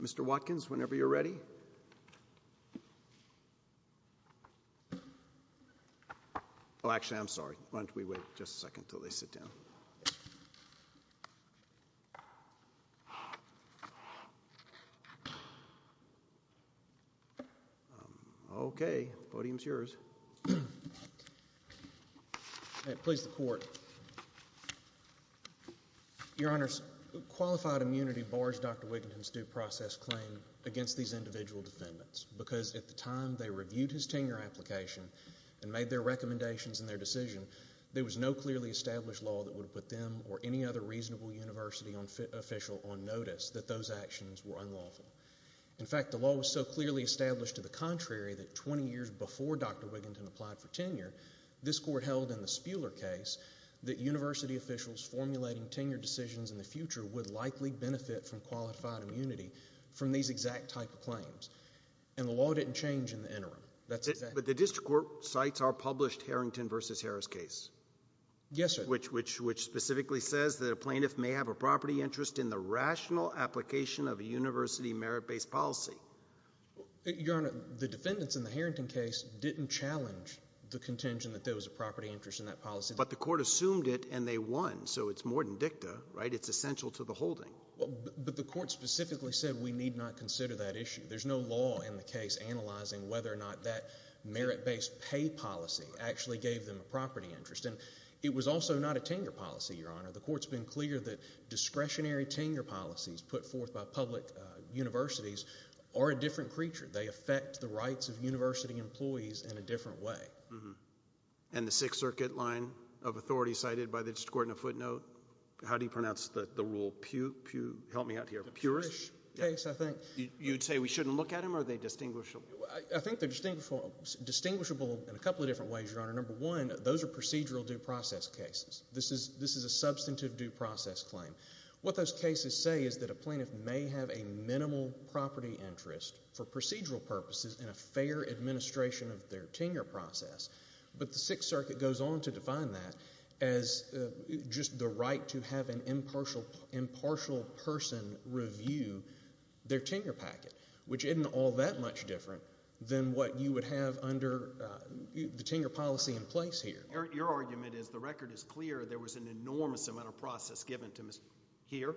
Mr. Watkins, whenever you're ready. Oh, actually, I'm sorry. Why don't we wait just a second until they sit down. Okay, the podium's yours. Please, the court. Your Honor, qualified immunity bars Dr. Wigginton's due process claim against these individual defendants because at the time they reviewed his tenure application and made their recommendations in their decision, there was no clearly established law that would put them or any other reasonable university official on notice that those actions were unlawful. In fact, the law was so clearly established to the contrary that 20 years before Dr. Wigginton applied for tenure, this court held in the Spuler case that university officials formulating tenure decisions in the future would likely benefit from qualified immunity from these exact type of claims. And the law didn't change in the interim. That's exact. But the district court cites our published Harrington v. Harris case. Yes, sir. Which specifically says that a plaintiff may have a property interest in the rational application of a university merit-based policy. Your Honor, the defendants in the Harrington case didn't challenge the contention that there was a property interest in that policy. But the court assumed it and they won, so it's more than dicta, right? It's essential to the holding. But the court specifically said we need not consider that issue. There's no law in the case analyzing whether or not that merit-based pay policy actually gave them a property interest. And it was also not a tenure policy, Your Honor. The court's been clear that discretionary tenure policies put forth by public universities are a different creature. They affect the rights of university employees in a different way. And the Sixth Circuit line of authority cited by the district court in a footnote, how do you pronounce the rule? Help me out here. Purish case, I think. You'd say we shouldn't look at them or are they distinguishable? I think they're distinguishable in a couple of different ways, Your Honor. Number one, those are procedural due process cases. This is a substantive due process claim. What those cases say is that a plaintiff may have a minimal property interest for procedural purposes in a fair administration of their tenure process. But the Sixth Circuit goes on to define that as just the right to have an impartial person review their tenure packet, which isn't all that much different than what you would have under the tenure policy in place here. Your argument is the record is clear. There was an enormous amount of process given to him here.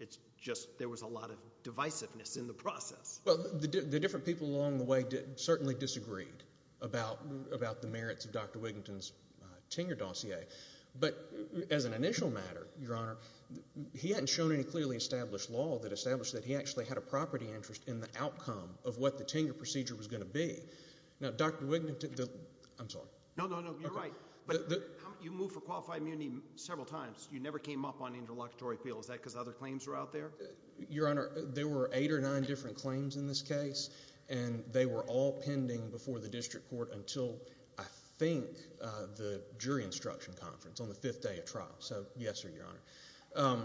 It's just there was a lot of divisiveness in the process. Well, the different people along the way certainly disagreed about the merits of Dr. Wiginton's tenure dossier. But as an initial matter, Your Honor, he hadn't shown any clearly established law that established that he actually had a property interest in the outcome of what the tenure procedure was going to be. Now, Dr. Wiginton – I'm sorry. No, no, no. You're right. But you moved for qualified immunity several times. You never came up on interlocutory appeal. Is that because other claims were out there? Your Honor, there were eight or nine different claims in this case, and they were all pending before the district court until I think the jury instruction conference on the fifth day of trial. So yes, Your Honor.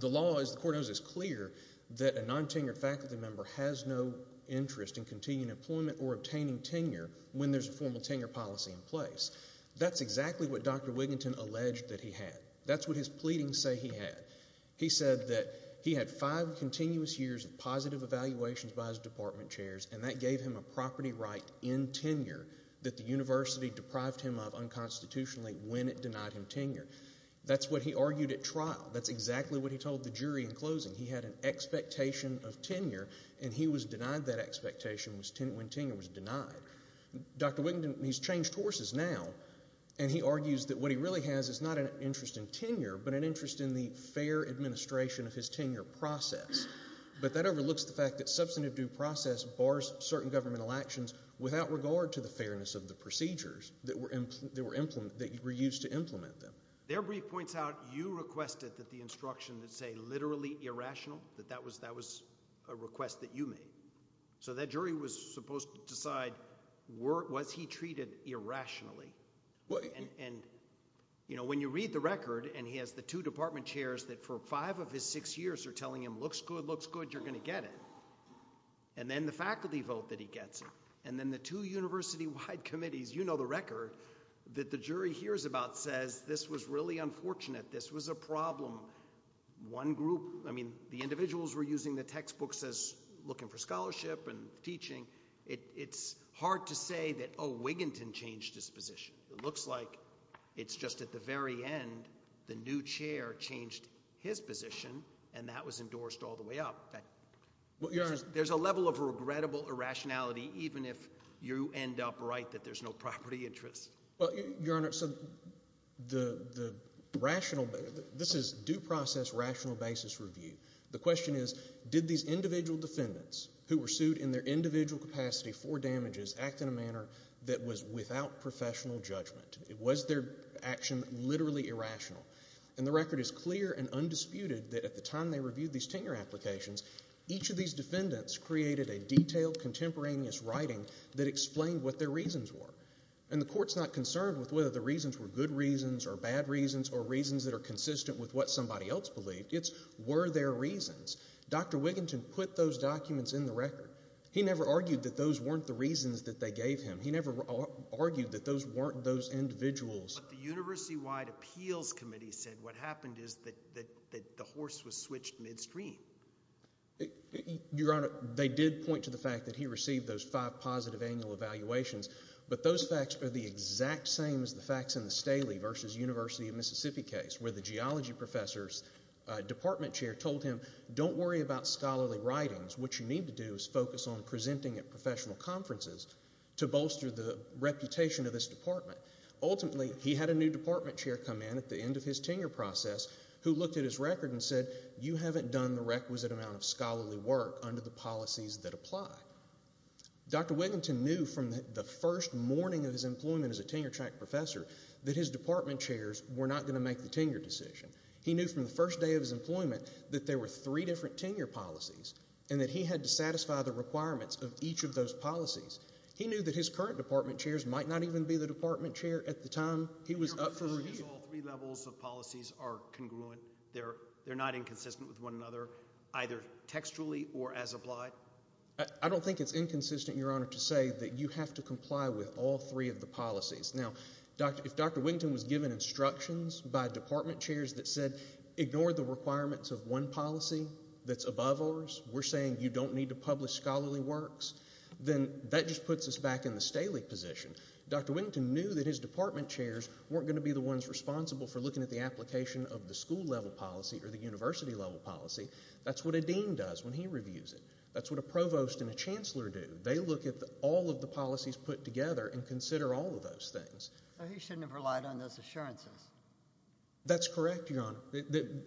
The law, as the court knows, is clear that a non-tenured faculty member has no interest in continuing employment or obtaining tenure when there's a formal tenure policy in place. That's exactly what Dr. Wiginton alleged that he had. That's what his pleadings say he had. He said that he had five continuous years of positive evaluations by his department chairs, and that gave him a property right in tenure that the university deprived him of unconstitutionally when it denied him tenure. That's what he argued at trial. That's exactly what he told the jury in closing. He had an expectation of tenure, and he was denied that expectation when tenure was denied. Dr. Wiginton, he's changed horses now, and he argues that what he really has is not an interest in tenure but an interest in the fair administration of his tenure process. But that overlooks the fact that substantive due process bars certain governmental actions without regard to the fairness of the procedures that were used to implement them. Their brief points out you requested that the instruction that say literally irrational, that that was a request that you made. So that jury was supposed to decide was he treated irrationally. And when you read the record, and he has the two department chairs that for five of his six years are telling him, if it looks good, you're going to get it, and then the faculty vote that he gets it, and then the two university-wide committees, you know the record, that the jury hears about says this was really unfortunate. This was a problem. One group, I mean, the individuals were using the textbooks as looking for scholarship and teaching. It's hard to say that, oh, Wiginton changed his position. It looks like it's just at the very end the new chair changed his position, and that was endorsed all the way up. There's a level of regrettable irrationality even if you end up right that there's no property interest. Well, Your Honor, so the rational – this is due process rational basis review. The question is did these individual defendants who were sued in their individual capacity for damages act in a manner that was without professional judgment? Was their action literally irrational? And the record is clear and undisputed that at the time they reviewed these tenure applications, each of these defendants created a detailed contemporaneous writing that explained what their reasons were. And the court's not concerned with whether the reasons were good reasons or bad reasons or reasons that are consistent with what somebody else believed. It's were there reasons. Dr. Wiginton put those documents in the record. He never argued that those weren't the reasons that they gave him. He never argued that those weren't those individuals. But the university-wide appeals committee said what happened is that the horse was switched midstream. Your Honor, they did point to the fact that he received those five positive annual evaluations, but those facts are the exact same as the facts in the Staley v. University of Mississippi case where the geology professor's department chair told him don't worry about scholarly writings. What you need to do is focus on presenting at professional conferences to bolster the reputation of this department. Ultimately, he had a new department chair come in at the end of his tenure process who looked at his record and said you haven't done the requisite amount of scholarly work under the policies that apply. Dr. Wiginton knew from the first morning of his employment as a tenure track professor that his department chairs were not going to make the tenure decision. He knew from the first day of his employment that there were three different tenure policies and that he had to satisfy the requirements of each of those policies. He knew that his current department chairs might not even be the department chair at the time he was up for review. Your conclusion is all three levels of policies are congruent? They're not inconsistent with one another either textually or as applied? I don't think it's inconsistent, Your Honor, to say that you have to comply with all three of the policies. Now, if Dr. Wiginton was given instructions by department chairs that said ignore the requirements of one policy that's above ours, we're saying you don't need to publish scholarly works, then that just puts us back in the Staley position. Dr. Wiginton knew that his department chairs weren't going to be the ones responsible for looking at the application of the school-level policy or the university-level policy. That's what a dean does when he reviews it. That's what a provost and a chancellor do. They look at all of the policies put together and consider all of those things. He shouldn't have relied on those assurances. That's correct, Your Honor.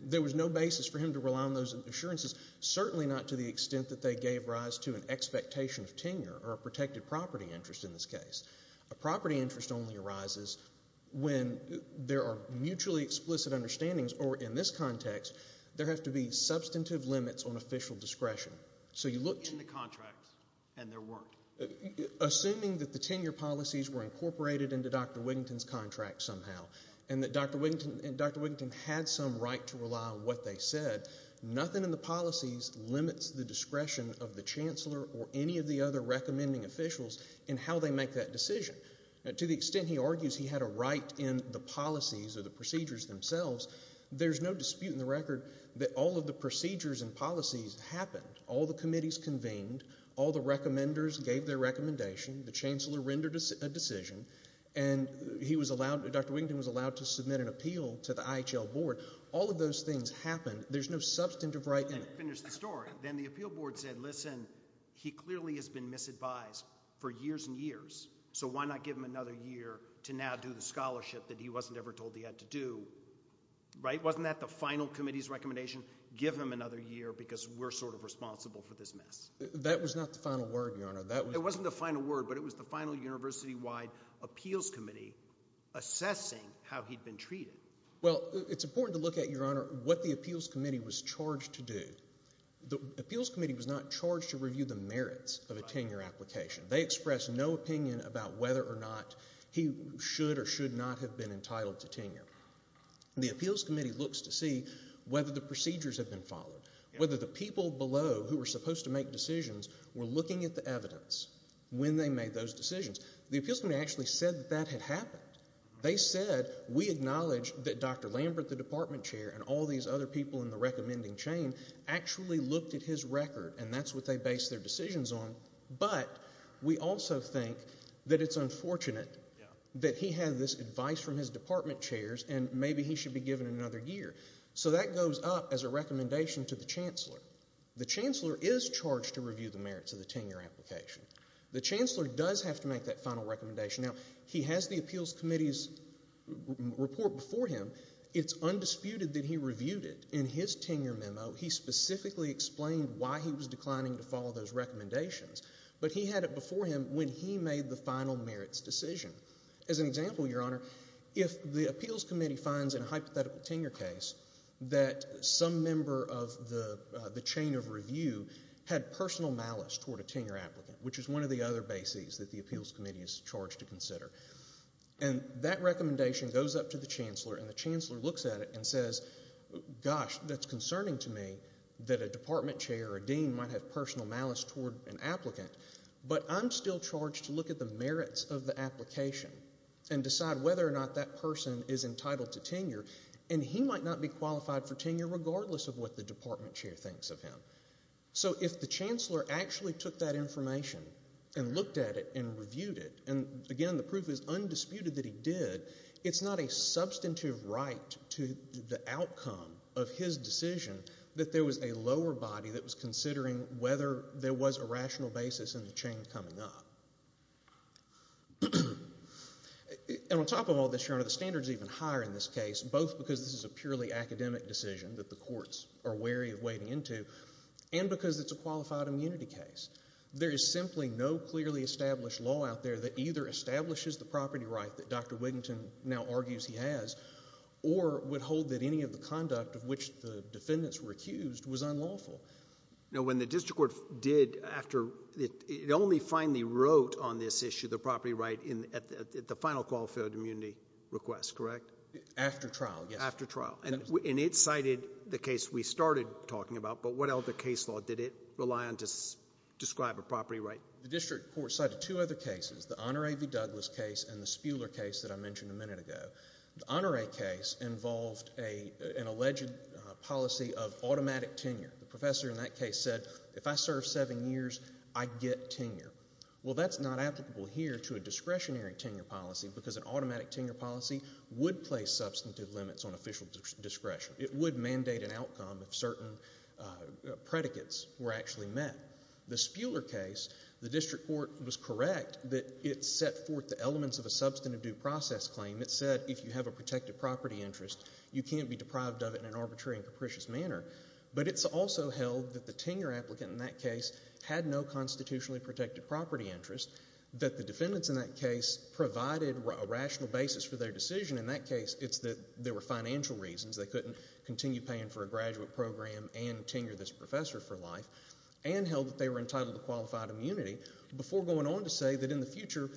There was no basis for him to rely on those assurances, certainly not to the extent that they gave rise to an expectation of tenure or a protected property interest in this case. A property interest only arises when there are mutually explicit understandings, or in this context, there have to be substantive limits on official discretion. So you look to the contracts and there weren't. Assuming that the tenure policies were incorporated into Dr. Wiginton's contract somehow and that Dr. Wiginton had some right to rely on what they said, nothing in the policies limits the discretion of the chancellor or any of the other recommending officials in how they make that decision. To the extent he argues he had a right in the policies or the procedures themselves, there's no dispute in the record that all of the procedures and policies happened. All the committees convened. All the recommenders gave their recommendation. The chancellor rendered a decision. And Dr. Wiginton was allowed to submit an appeal to the IHL board. All of those things happened. There's no substantive right in it. Finish the story. Then the appeal board said, listen, he clearly has been misadvised for years and years, so why not give him another year to now do the scholarship that he wasn't ever told he had to do. Wasn't that the final committee's recommendation? Give him another year because we're sort of responsible for this mess. That was not the final word, Your Honor. It wasn't the final word, but it was the final university-wide appeals committee assessing how he'd been treated. Well, it's important to look at, Your Honor, what the appeals committee was charged to do. The appeals committee was not charged to review the merits of a tenure application. They expressed no opinion about whether or not he should or should not have been entitled to tenure. The appeals committee looks to see whether the procedures had been followed, whether the people below who were supposed to make decisions were looking at the evidence when they made those decisions. The appeals committee actually said that that had happened. They said we acknowledge that Dr. Lambert, the department chair, and all these other people in the recommending chain actually looked at his record, and that's what they based their decisions on, but we also think that it's unfortunate that he had this advice from his department chairs and maybe he should be given another year. So that goes up as a recommendation to the chancellor. The chancellor is charged to review the merits of the tenure application. The chancellor does have to make that final recommendation. Now, he has the appeals committee's report before him. It's undisputed that he reviewed it. In his tenure memo, he specifically explained why he was declining to follow those recommendations, but he had it before him when he made the final merits decision. As an example, Your Honor, if the appeals committee finds in a hypothetical tenure case that some member of the chain of review had personal malice toward a tenure applicant, which is one of the other bases that the appeals committee is charged to consider, and that recommendation goes up to the chancellor, and the chancellor looks at it and says, gosh, that's concerning to me that a department chair or dean might have personal malice toward an applicant, but I'm still charged to look at the merits of the application and decide whether or not that person is entitled to tenure, and he might not be qualified for tenure regardless of what the department chair thinks of him. So if the chancellor actually took that information and looked at it and reviewed it, and again the proof is undisputed that he did, it's not a substantive right to the outcome of his decision that there was a lower body that was considering whether there was a rational basis in the chain coming up. And on top of all this, Your Honor, the standard is even higher in this case, both because this is a purely academic decision that the courts are wary of wading into and because it's a qualified immunity case. There is simply no clearly established law out there that either establishes the property right that Dr. Whittington now argues he has or would hold that any of the conduct of which the defendants were accused was unlawful. Now when the district court did, it only finally wrote on this issue, the property right at the final qualified immunity request, correct? After trial, yes. After trial, and it cited the case we started talking about, but what other case law did it rely on to describe a property right? The district court cited two other cases, the Honor A.V. Douglas case and the Spuler case that I mentioned a minute ago. The Honor A.V. case involved an alleged policy of automatic tenure. The professor in that case said if I serve seven years, I get tenure. Well, that's not applicable here to a discretionary tenure policy because an automatic tenure policy would place substantive limits on official discretion. It would mandate an outcome if certain predicates were actually met. The Spuler case, the district court was correct that it set forth the elements of a substantive due process claim. It said if you have a protected property interest, you can't be deprived of it in an arbitrary and capricious manner. But it's also held that the tenure applicant in that case had no constitutionally protected property interest, that the defendants in that case provided a rational basis for their decision. In that case, it's that there were financial reasons. They couldn't continue paying for a graduate program and tenure this professor for life and held that they were entitled to qualified immunity before going on to say that in the future,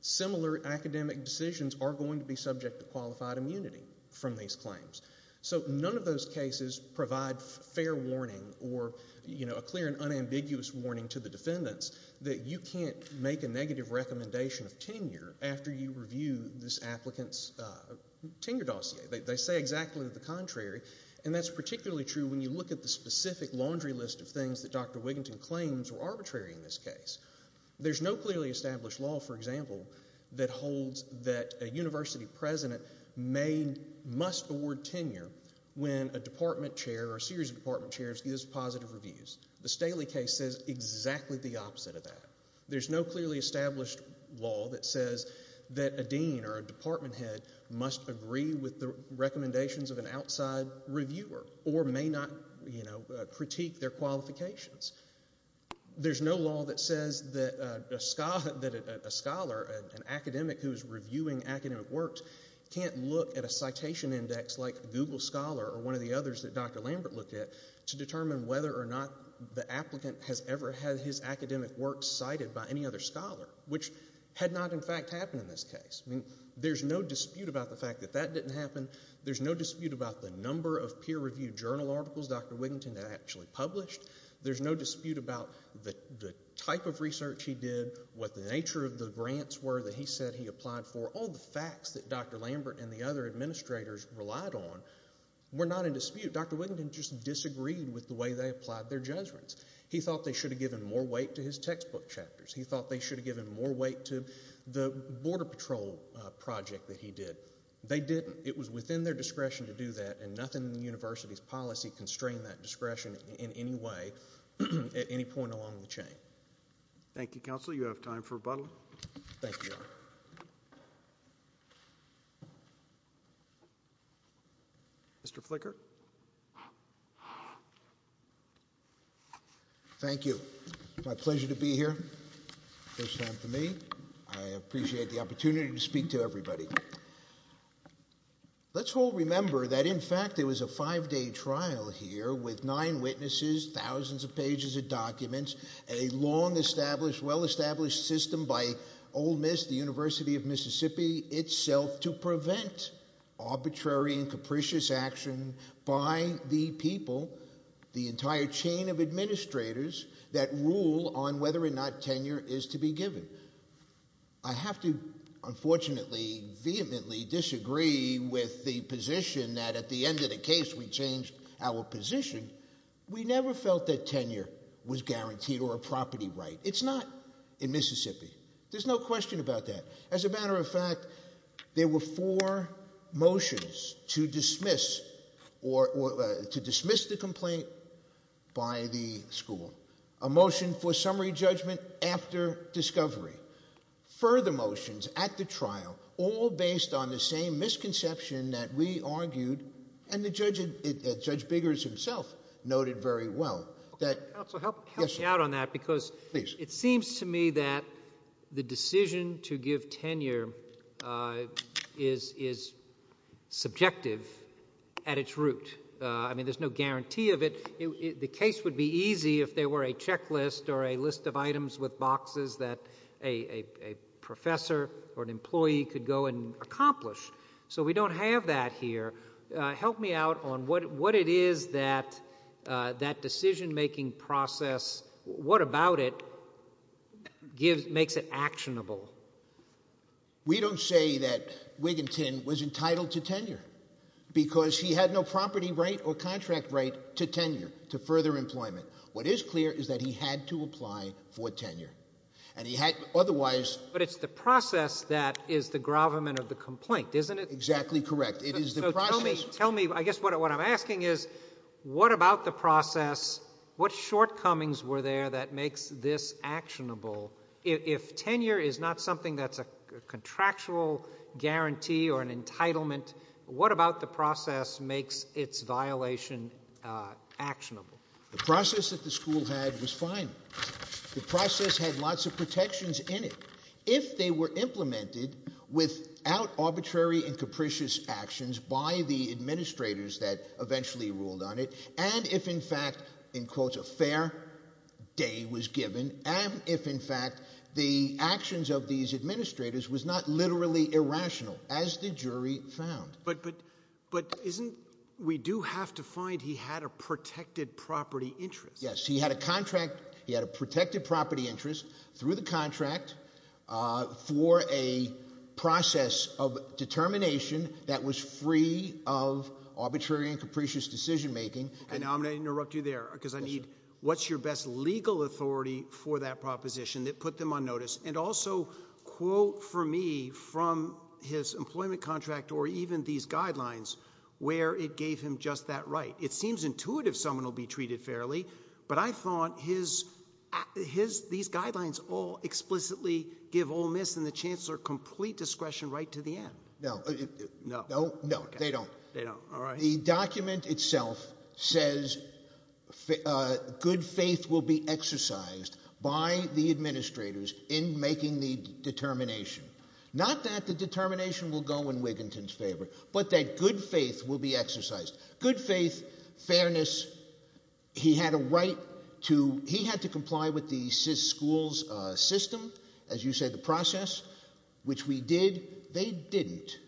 similar academic decisions are going to be subject to qualified immunity from these claims. So none of those cases provide fair warning or a clear and unambiguous warning to the defendants that you can't make a negative recommendation of tenure after you review this applicant's tenure dossier. They say exactly the contrary, and that's particularly true when you look at the specific laundry list of things that Dr. Wiginton claims were arbitrary in this case. There's no clearly established law, for example, that holds that a university president must award tenure when a department chair or a series of department chairs gives positive reviews. The Staley case says exactly the opposite of that. There's no clearly established law that says that a dean or a department head must agree with the recommendations of an outside reviewer or may not critique their qualifications. There's no law that says that a scholar, an academic who is reviewing academic works, can't look at a citation index like Google Scholar or one of the others that Dr. Lambert looked at to determine whether or not the applicant has ever had his academic works cited by any other scholar, which had not, in fact, happened in this case. There's no dispute about the fact that that didn't happen. There's no dispute about the number of peer-reviewed journal articles Dr. Wiginton had actually published. There's no dispute about the type of research he did, what the nature of the grants were that he said he applied for. All the facts that Dr. Lambert and the other administrators relied on were not in dispute. Dr. Wiginton just disagreed with the way they applied their judgments. He thought they should have given more weight to his textbook chapters. He thought they should have given more weight to the border patrol project that he did. They didn't. It was within their discretion to do that, and nothing in the university's policy constrained that discretion in any way at any point along the chain. Thank you, counsel. You have time for rebuttal. Thank you. Mr. Flicker. Thank you. It's my pleasure to be here. First time for me. I appreciate the opportunity to speak to everybody. Let's all remember that, in fact, there was a five-day trial here with nine witnesses, thousands of pages of documents, a long-established, well-established system by Ole Miss, the University of Mississippi itself, to prevent arbitrary and capricious action by the people, the entire chain of administrators, that rule on whether or not tenure is to be given. I have to, unfortunately, vehemently disagree with the position that at the end of the case we changed our position. We never felt that tenure was guaranteed or a property right. It's not in Mississippi. There's no question about that. As a matter of fact, there were four motions to dismiss the complaint by the school, a motion for summary judgment after discovery, further motions at the trial, all based on the same misconception that we argued and that Judge Biggers himself noted very well. Counsel, help me out on that because it seems to me that the decision to give tenure is subjective at its root. I mean, there's no guarantee of it. The case would be easy if there were a checklist or a list of items with boxes that a professor or an employee could go and accomplish. So we don't have that here. Help me out on what it is that that decision-making process, what about it, makes it actionable. We don't say that Wiginton was entitled to tenure because he had no property right or contract right to tenure, to further employment. What is clear is that he had to apply for tenure, and he had otherwise. But it's the process that is the gravamen of the complaint, isn't it? Exactly correct. So tell me, I guess what I'm asking is what about the process, what shortcomings were there that makes this actionable? If tenure is not something that's a contractual guarantee or an entitlement, what about the process makes its violation actionable? The process that the school had was fine. The process had lots of protections in it. If they were implemented without arbitrary and capricious actions by the administrators that eventually ruled on it, and if in fact, in quotes, a fair day was given, and if in fact, the actions of these administrators was not literally irrational, as the jury found. But isn't we do have to find he had a protected property interest? Yes, he had a protected property interest through the contract for a process of determination that was free of arbitrary and capricious decision-making. And I'm going to interrupt you there because I need, what's your best legal authority for that proposition that put them on notice? And also, quote for me from his employment contract or even these guidelines where it gave him just that right. It seems intuitive someone will be treated fairly, but I thought these guidelines all explicitly give Ole Miss and the Chancellor complete discretion right to the end. No. No? No, they don't. They don't. All right. The document itself says good faith will be exercised by the administrators in making the determination. Not that the determination will go in Wiginton's favor, but that good faith will be exercised. Good faith, fairness, he had a right to, he had to comply with the school's system, as you said, the process, which we did. They didn't.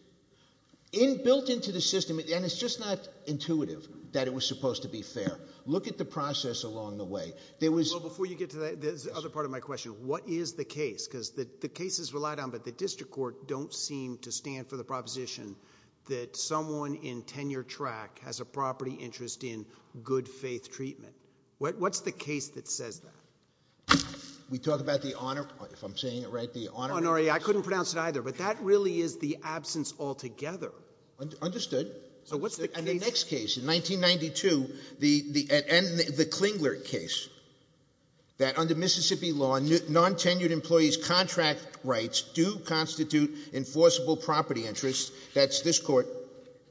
Built into the system, and it's just not intuitive that it was supposed to be fair. Look at the process along the way. Well, before you get to that, there's the other part of my question. What is the case? Because the cases relied on, but the district court don't seem to stand for the proposition that someone in tenure track has a property interest in good faith treatment. What's the case that says that? We talk about the honor, if I'm saying it right, the honorary. I couldn't pronounce it either, but that really is the absence altogether. Understood. So what's the next case? In 1992, the Klingler case, that under Mississippi law, non-tenured employees' contract rights do constitute enforceable property interests. That's this court,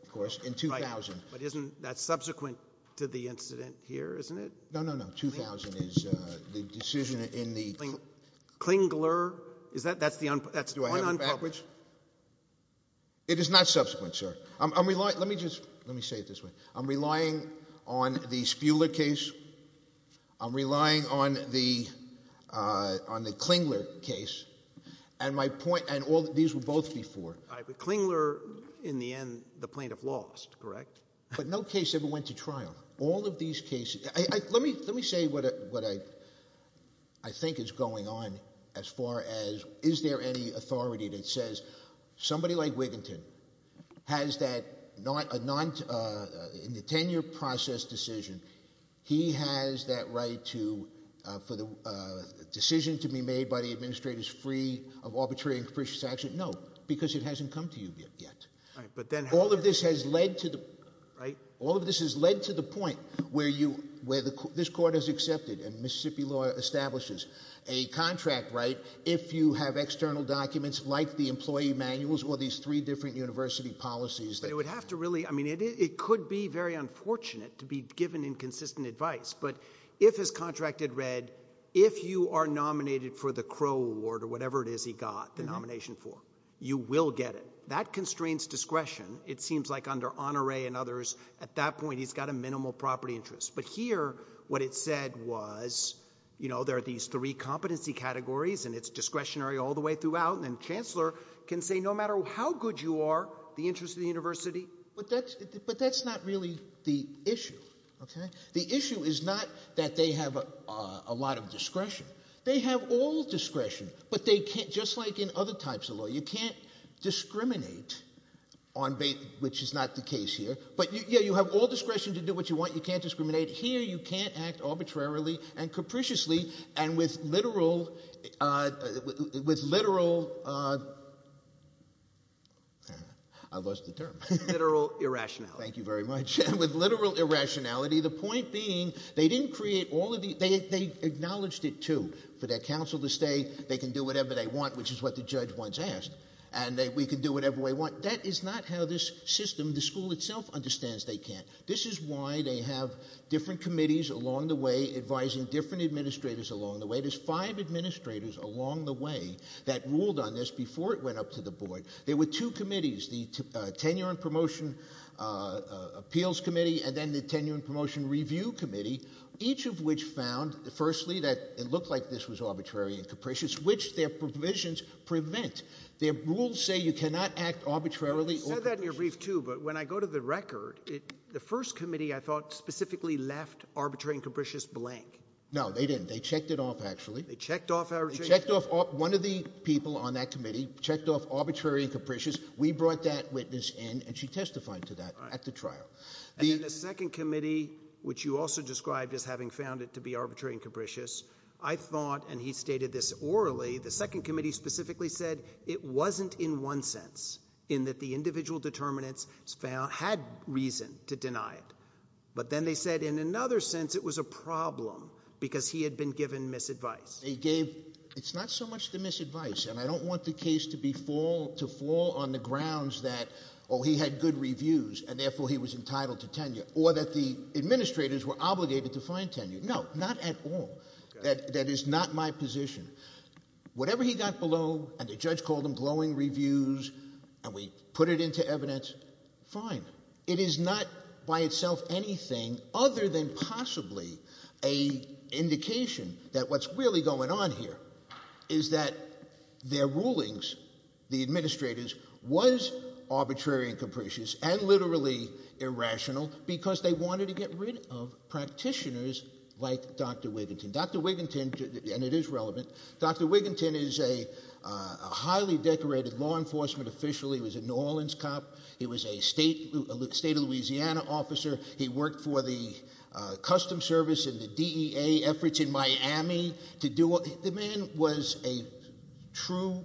of course, in 2000. But isn't that subsequent to the incident here, isn't it? No, no, no. 2000 is the decision in the Klingler. Klingler? That's the one unpublished? It is not subsequent, sir. Let me say it this way. I'm relying on the Spuler case. I'm relying on the Klingler case. And these were both before. Klingler, in the end, the plaintiff lost, correct? But no case ever went to trial. Let me say what I think is going on as far as is there any authority that says somebody like Wiginton has that, in the tenure process decision, he has that right for the decision to be made by the administrators free of arbitrary and capricious action? No, because it hasn't come to you yet. All of this has led to the point where this court has accepted and Mississippi law establishes a contract right if you have external documents like the employee manuals or these three different university policies. But it would have to really, I mean, it could be very unfortunate to be given inconsistent advice. But if his contract had read if you are nominated for the Crow award or whatever it is he got the nomination for, you will get it. That constrains discretion. It seems like under Honore and others at that point he's got a minimal property interest. But here what it said was there are these three competency categories and it's discretionary all the way throughout. And then chancellor can say no matter how good you are, the interest of the university. But that's not really the issue. The issue is not that they have a lot of discretion. They have all discretion. But just like in other types of law, you can't discriminate, which is not the case here. But you have all discretion to do what you want. You can't discriminate. Here you can't act arbitrarily and capriciously and with literal – I lost the term. Literal irrationality. Thank you very much. With literal irrationality. The point being they didn't create all of the – they acknowledged it, too, for their council to say they can do whatever they want, which is what the judge once asked. And we can do whatever we want. That is not how this system, the school itself, understands they can't. This is why they have different committees along the way advising different administrators along the way. There's five administrators along the way that ruled on this before it went up to the board. There were two committees, the Tenure and Promotion Appeals Committee and then the Tenure and Promotion Review Committee, each of which found, firstly, that it looked like this was arbitrary and capricious, which their provisions prevent. Their rules say you cannot act arbitrarily or capriciously. You said that in your brief, too, but when I go to the record, the first committee, I thought, specifically left arbitrary and capricious blank. No, they didn't. They checked it off, actually. They checked off arbitrary and capricious. One of the people on that committee checked off arbitrary and capricious. We brought that witness in, and she testified to that at the trial. The second committee, which you also described as having found it to be arbitrary and capricious, I thought, and he stated this orally, the second committee specifically said it wasn't in one sense, in that the individual determinants had reason to deny it. But then they said in another sense it was a problem because he had been given misadvice. They gave, it's not so much the misadvice, and I don't want the case to fall on the grounds that, oh, he had good reviews, and therefore he was entitled to tenure, or that the administrators were obligated to find tenure. No, not at all. That is not my position. Whatever he got below, and the judge called them glowing reviews, and we put it into evidence, fine. It is not by itself anything other than possibly an indication that what's really going on here is that their rulings, the administrators, was arbitrary and capricious and literally irrational because they wanted to get rid of practitioners like Dr. Wiginton. Dr. Wiginton, and it is relevant, Dr. Wiginton is a highly decorated law enforcement official. He was a New Orleans cop. He was a state of Louisiana officer. He worked for the Customs Service and the DEA efforts in Miami. The man was a true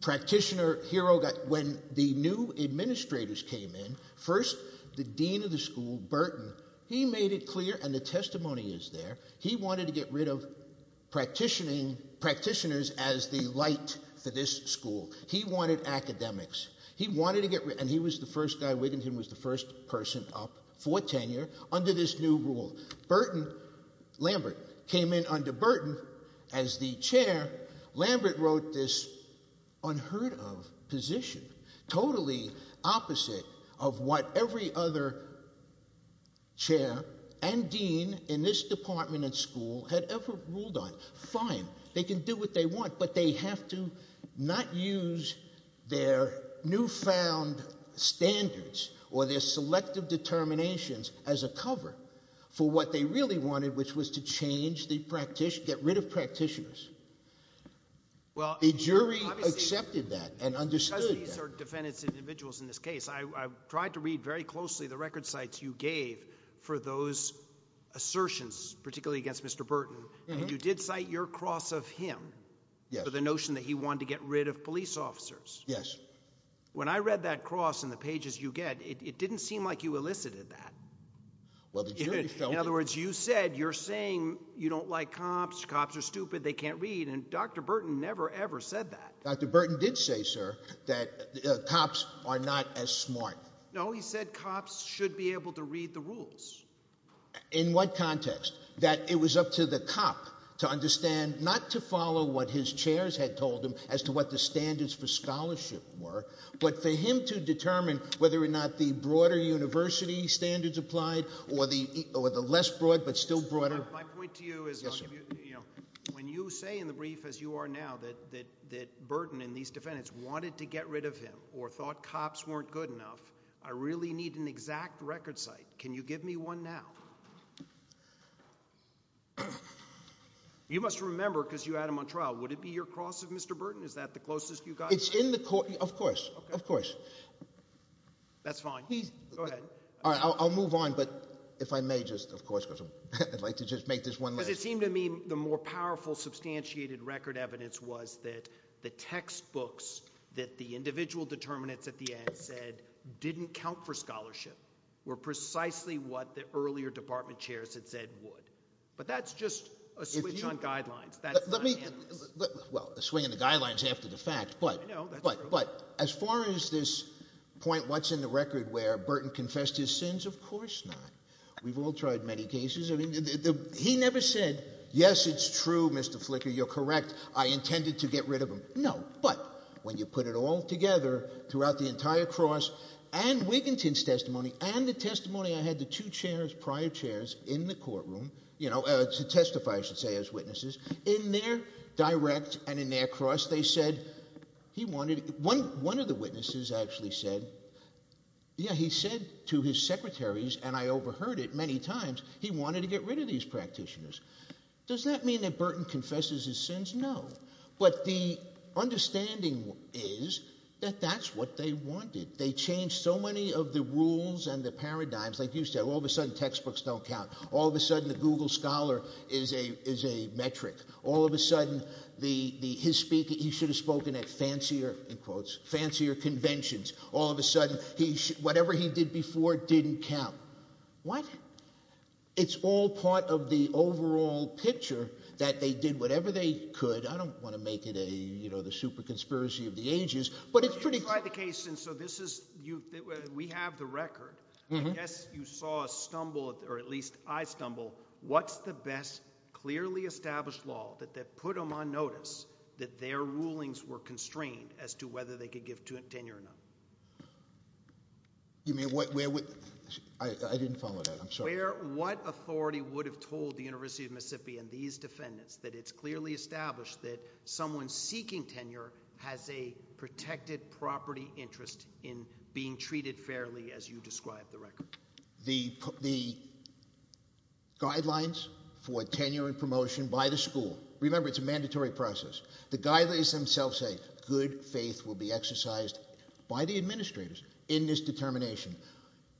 practitioner hero. When the new administrators came in, first the dean of the school, Burton, he made it clear, and the testimony is there, he wanted to get rid of practitioners as the light for this school. He wanted academics. He wanted to get rid, and he was the first guy, Wiginton was the first person up for tenure under this new rule. Burton, Lambert, came in under Burton as the chair. Lambert wrote this unheard of position, totally opposite of what every other chair and dean in this department and school had ever ruled on. Fine, they can do what they want, but they have to not use their newfound standards or their selective determinations as a cover for what they really wanted, which was to get rid of practitioners. The jury accepted that and understood that. Because these are defendants and individuals in this case, I tried to read very closely the record cites you gave for those assertions, particularly against Mr. Burton, and you did cite your cross of him for the notion that he wanted to get rid of police officers. When I read that cross and the pages you get, it didn't seem like you elicited that. In other words, you said you're saying you don't like cops, cops are stupid, they can't read, and Dr. Burton never ever said that. Dr. Burton did say, sir, that cops are not as smart. No, he said cops should be able to read the rules. In what context? That it was up to the cop to understand not to follow what his chairs had told him as to what the standards for scholarship were, but for him to determine whether or not the broader university standards applied or the less broad but still broader. My point to you is, when you say in the brief, as you are now, that Burton and these defendants wanted to get rid of him or thought cops weren't good enough, I really need an exact record site. Can you give me one now? You must remember, because you had him on trial, would it be your cross of Mr. Burton? Is that the closest you got? It's in the – of course, of course. That's fine. Go ahead. I'll move on, but if I may just, of course, because I'd like to just make this one last – were precisely what the earlier department chairs had said would. But that's just a switch on guidelines. Well, a swing on the guidelines after the fact, but as far as this point what's in the record where Burton confessed his sins, of course not. We've all tried many cases. He never said, yes, it's true, Mr. Flicker, you're correct, I intended to get rid of him. No, but when you put it all together throughout the entire cross and Wiginton's testimony and the testimony I had the two chairs, prior chairs, in the courtroom – to testify, I should say, as witnesses – in their direct and in their cross they said he wanted – one of the witnesses actually said – yeah, he said to his secretaries, and I overheard it many times, he wanted to get rid of these practitioners. Does that mean that Burton confesses his sins? No. But the understanding is that that's what they wanted. They changed so many of the rules and the paradigms. Like you said, all of a sudden textbooks don't count. All of a sudden the Google Scholar is a metric. All of a sudden his speaker – he should have spoken at fancier, in quotes, fancier conventions. All of a sudden whatever he did before didn't count. What? It's all part of the overall picture that they did whatever they could. I don't want to make it the super conspiracy of the ages, but it's pretty – You tried the case, and so this is – we have the record. I guess you saw a stumble, or at least I stumble. What's the best clearly established law that put them on notice that their rulings were constrained as to whether they could give tenure or not? You mean – I didn't follow that. I'm sorry. What authority would have told the University of Mississippi and these defendants that it's clearly established that someone seeking tenure has a protected property interest in being treated fairly as you describe the record? The guidelines for tenure and promotion by the school – remember, it's a mandatory process. The guidelines themselves say good faith will be exercised by the administrators in this determination.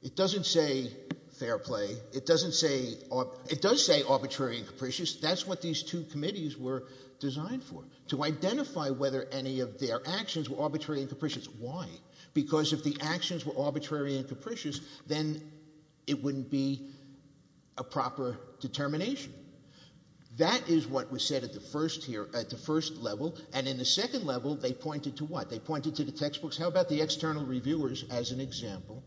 It doesn't say fair play. It doesn't say – it does say arbitrary and capricious. That's what these two committees were designed for, to identify whether any of their actions were arbitrary and capricious. Why? Because if the actions were arbitrary and capricious, then it wouldn't be a proper determination. That is what was said at the first level, and in the second level they pointed to what? They pointed to the textbooks. How about the external reviewers as an example?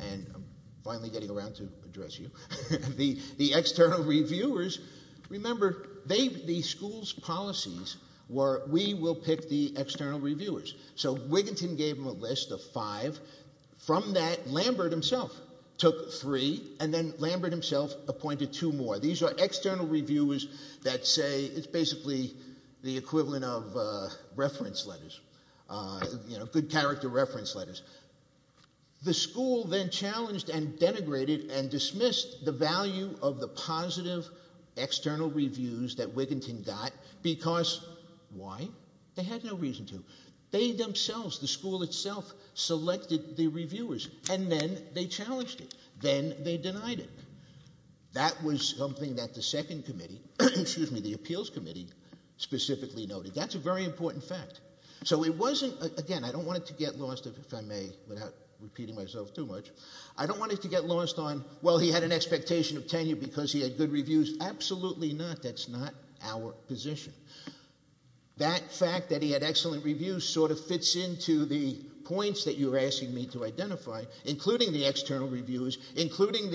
And I'm finally getting around to address you. The external reviewers – remember, the school's policies were we will pick the external reviewers. So Wiginton gave them a list of five. From that, Lambert himself took three, and then Lambert himself appointed two more. These are external reviewers that say – it's basically the equivalent of reference letters, good character reference letters. The school then challenged and denigrated and dismissed the value of the positive external reviews that Wiginton got because – why? They had no reason to. They themselves, the school itself, selected the reviewers, and then they challenged it. That was something that the second committee – excuse me, the appeals committee specifically noted. That's a very important fact. So it wasn't – again, I don't want to get lost, if I may, without repeating myself too much. I don't want to get lost on, well, he had an expectation of tenure because he had good reviews. Absolutely not. That's not our position. That fact that he had excellent reviews sort of fits into the points that you were asking me to identify, including the external reviewers, including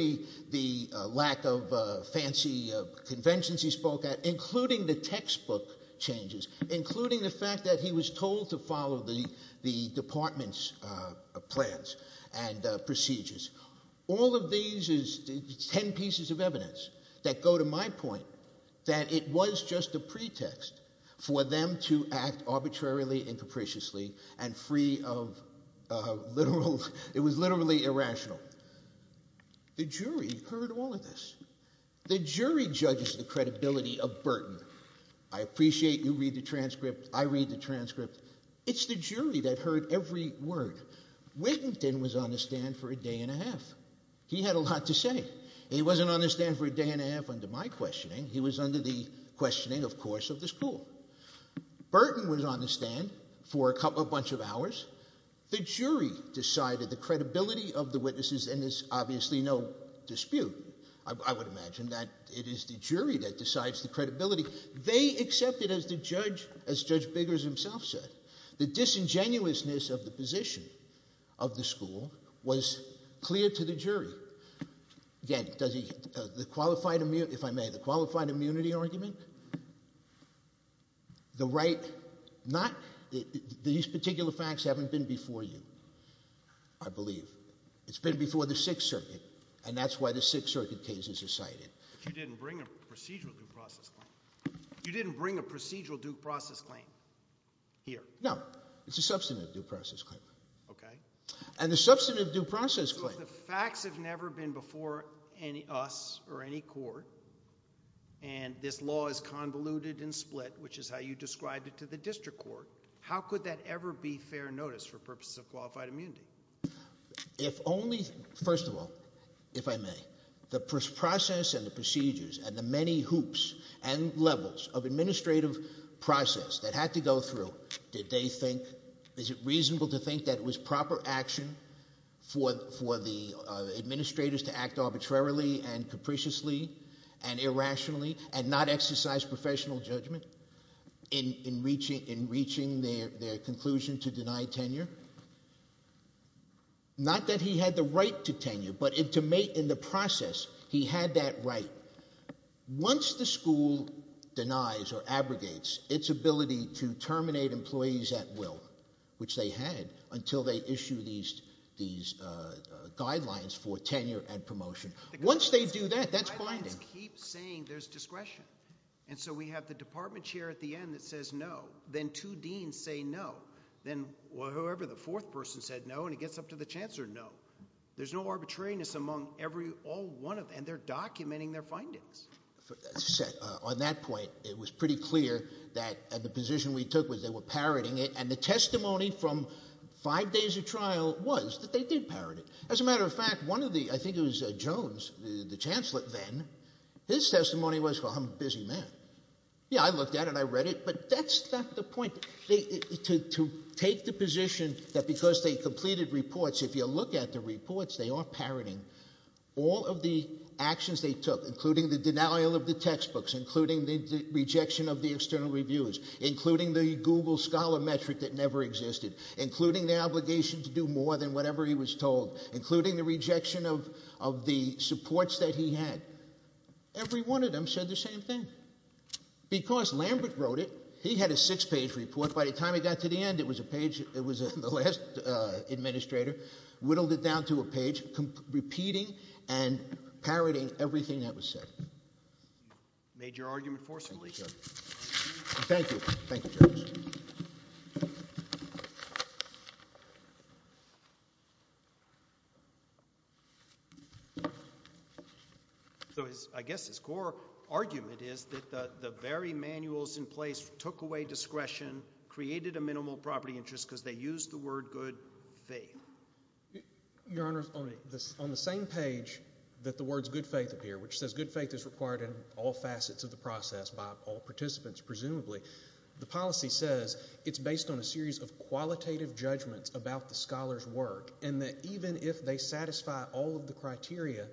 the lack of fancy conventions he spoke at, including the textbook changes, including the fact that he was told to follow the department's plans and procedures. All of these is ten pieces of evidence that go to my point that it was just a pretext for them to act arbitrarily and capriciously and free of literal – it was literally irrational. The jury heard all of this. The jury judges the credibility of Burton. I appreciate you read the transcript. I read the transcript. It's the jury that heard every word. Whittington was on the stand for a day and a half. He had a lot to say. He wasn't on the stand for a day and a half under my questioning. He was under the questioning, of course, of the school. Burton was on the stand for a bunch of hours. The jury decided the credibility of the witnesses, and there's obviously no dispute, I would imagine, that it is the jury that decides the credibility. They accepted, as Judge Biggers himself said, the disingenuousness of the position of the school was clear to the jury. Again, does he – the qualified immunity – if I may – the qualified immunity argument, the right – not – these particular facts haven't been before you, I believe. It's been before the Sixth Circuit, and that's why the Sixth Circuit cases are cited. But you didn't bring a procedural due process claim. You didn't bring a procedural due process claim here. No. It's a substantive due process claim. Okay. And the substantive due process claim – So if the facts have never been before us or any court and this law is convoluted and split, which is how you described it to the district court, how could that ever be fair notice for purposes of qualified immunity? If only – first of all, if I may – the process and the procedures and the many hoops and levels of administrative process that had to go through, did they think – is it reasonable to think that it was proper action for the administrators to act arbitrarily and capriciously and irrationally and not exercise professional judgment in reaching their conclusion to deny tenure? Not that he had the right to tenure, but in the process he had that right. Once the school denies or abrogates its ability to terminate employees at will, which they had until they issued these guidelines for tenure and promotion, once they do that, that's blinding. And so we have the department chair at the end that says no. Then two deans say no. Then whoever the fourth person said no, and it gets up to the chancellor, no. There's no arbitrariness among every – all one of – and they're documenting their findings. On that point, it was pretty clear that the position we took was they were parroting it, and the testimony from five days of trial was that they did parrot it. As a matter of fact, one of the – I think it was Jones, the chancellor then, his testimony was, well, I'm a busy man. Yeah, I looked at it, I read it, but that's not the point. To take the position that because they completed reports, if you look at the reports, they are parroting. All of the actions they took, including the denial of the textbooks, including the rejection of the external reviews, including the Google scholar metric that never existed, including the obligation to do more than whatever he was told, including the rejection of the supports that he had, every one of them said the same thing. And because Lambert wrote it, he had a six-page report. By the time it got to the end, it was a page – it was the last administrator whittled it down to a page, repeating and parroting everything that was said. You made your argument forcefully here. Thank you, Judge. So I guess his core argument is that the very manuals in place took away discretion, created a minimal property interest because they used the word good faith. Your Honor, on the same page that the words good faith appear, which says good faith is required in all facets of the process by all participants presumably, the policy says it's based on a series of qualitative judgments about the scholar's work and that even if they satisfy all of the criteria,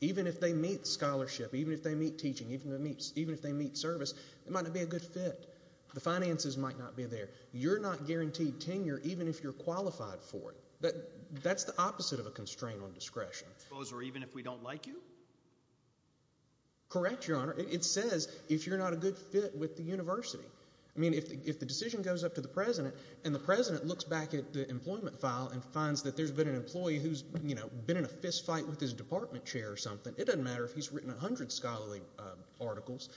even if they meet scholarship, even if they meet teaching, even if they meet service, it might not be a good fit. The finances might not be there. You're not guaranteed tenure even if you're qualified for it. That's the opposite of a constraint on discretion. Even if we don't like you? Correct, Your Honor. It says if you're not a good fit with the university. I mean if the decision goes up to the president and the president looks back at the employment file and finds that there's been an employee who's been in a fistfight with his department chair or something, it doesn't matter if he's written a hundred scholarly articles,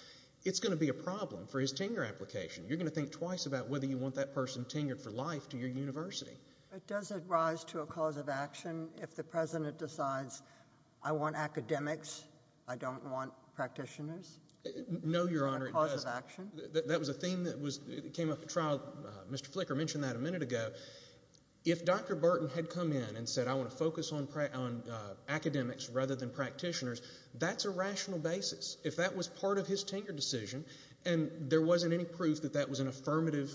it's going to be a problem for his tenure application. You're going to think twice about whether you want that person tenured for life to your university. But does it rise to a cause of action if the president decides I want academics, I don't want practitioners? No, Your Honor, it doesn't. It's not a cause of action? That was a theme that came up at trial. Mr. Flicker mentioned that a minute ago. If Dr. Burton had come in and said I want to focus on academics rather than practitioners, that's a rational basis. If that was part of his tenure decision and there wasn't any proof that that was an affirmative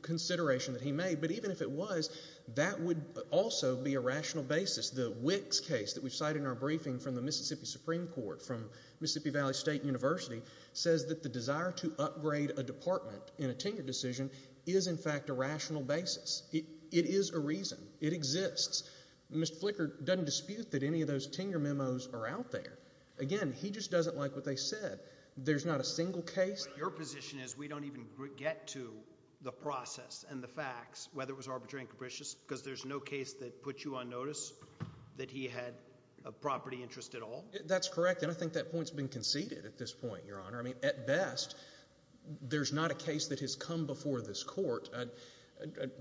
consideration that he made, but even if it was, that would also be a rational basis. The Wicks case that we've cited in our briefing from the Mississippi Supreme Court from Mississippi Valley State University says that the desire to upgrade a department in a tenure decision is in fact a rational basis. It is a reason. It exists. Mr. Flicker doesn't dispute that any of those tenure memos are out there. Again, he just doesn't like what they said. There's not a single case. Your position is we don't even get to the process and the facts, whether it was arbitrary and capricious, because there's no case that put you on notice that he had a property interest at all? That's correct, and I think that point has been conceded at this point, Your Honor. At best, there's not a case that has come before this court. I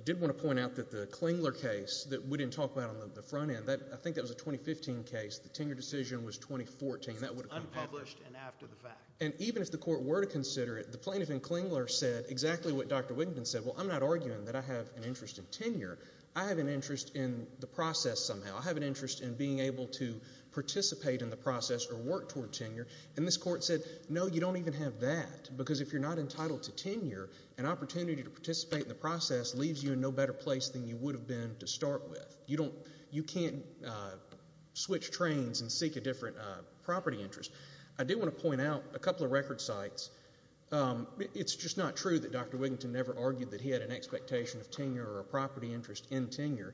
did want to point out that the Klingler case that we didn't talk about on the front end, I think that was a 2015 case. The tenure decision was 2014. That would have come after. It was unpublished and after the fact. And even if the court were to consider it, the plaintiff in Klingler said exactly what Dr. Wiginton said. Well, I'm not arguing that I have an interest in tenure. I have an interest in the process somehow. I have an interest in being able to participate in the process or work toward tenure. And this court said, no, you don't even have that because if you're not entitled to tenure, an opportunity to participate in the process leaves you in no better place than you would have been to start with. You can't switch trains and seek a different property interest. I do want to point out a couple of record sites. It's just not true that Dr. Wiginton never argued that he had an expectation of tenure or a property interest in tenure.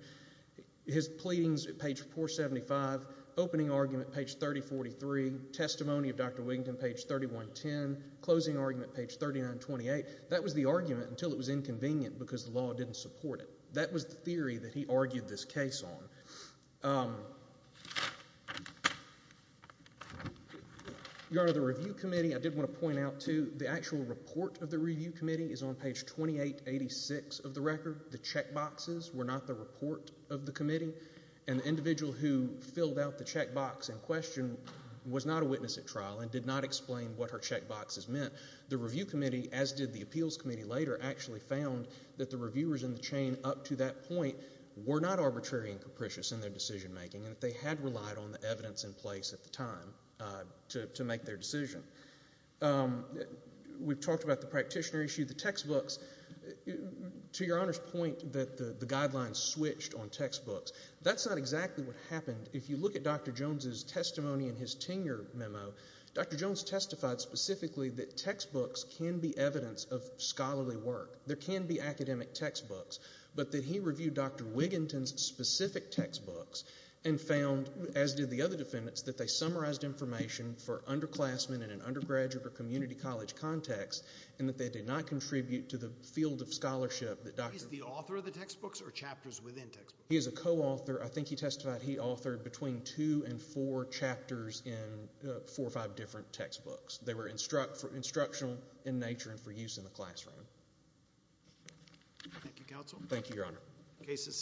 His pleadings at page 475, opening argument page 3043, testimony of Dr. Wiginton page 3110, closing argument page 3928. That was the argument until it was inconvenient because the law didn't support it. So that was the theory that he argued this case on. Your Honor, the review committee, I did want to point out too, the actual report of the review committee is on page 2886 of the record. The checkboxes were not the report of the committee, and the individual who filled out the checkbox in question was not a witness at trial and did not explain what her checkboxes meant. The review committee, as did the appeals committee later, actually found that the reviewers in the chain up to that point were not arbitrary and capricious in their decision making, and that they had relied on the evidence in place at the time to make their decision. We've talked about the practitioner issue, the textbooks. To Your Honor's point that the guidelines switched on textbooks, that's not exactly what happened. If you look at Dr. Jones' testimony in his tenure memo, Dr. Jones testified specifically that textbooks can be evidence of scholarly work. There can be academic textbooks, but that he reviewed Dr. Wiginton's specific textbooks and found, as did the other defendants, that they summarized information for underclassmen in an undergraduate or community college context, and that they did not contribute to the field of scholarship that Dr. Wiginton. He's the author of the textbooks or chapters within textbooks? He is a co-author. I think he testified he authored between two and four chapters in four or five different textbooks. They were instructional in nature and for use in the classroom. Thank you, Counsel. Thank you, Your Honor. The case is submitted.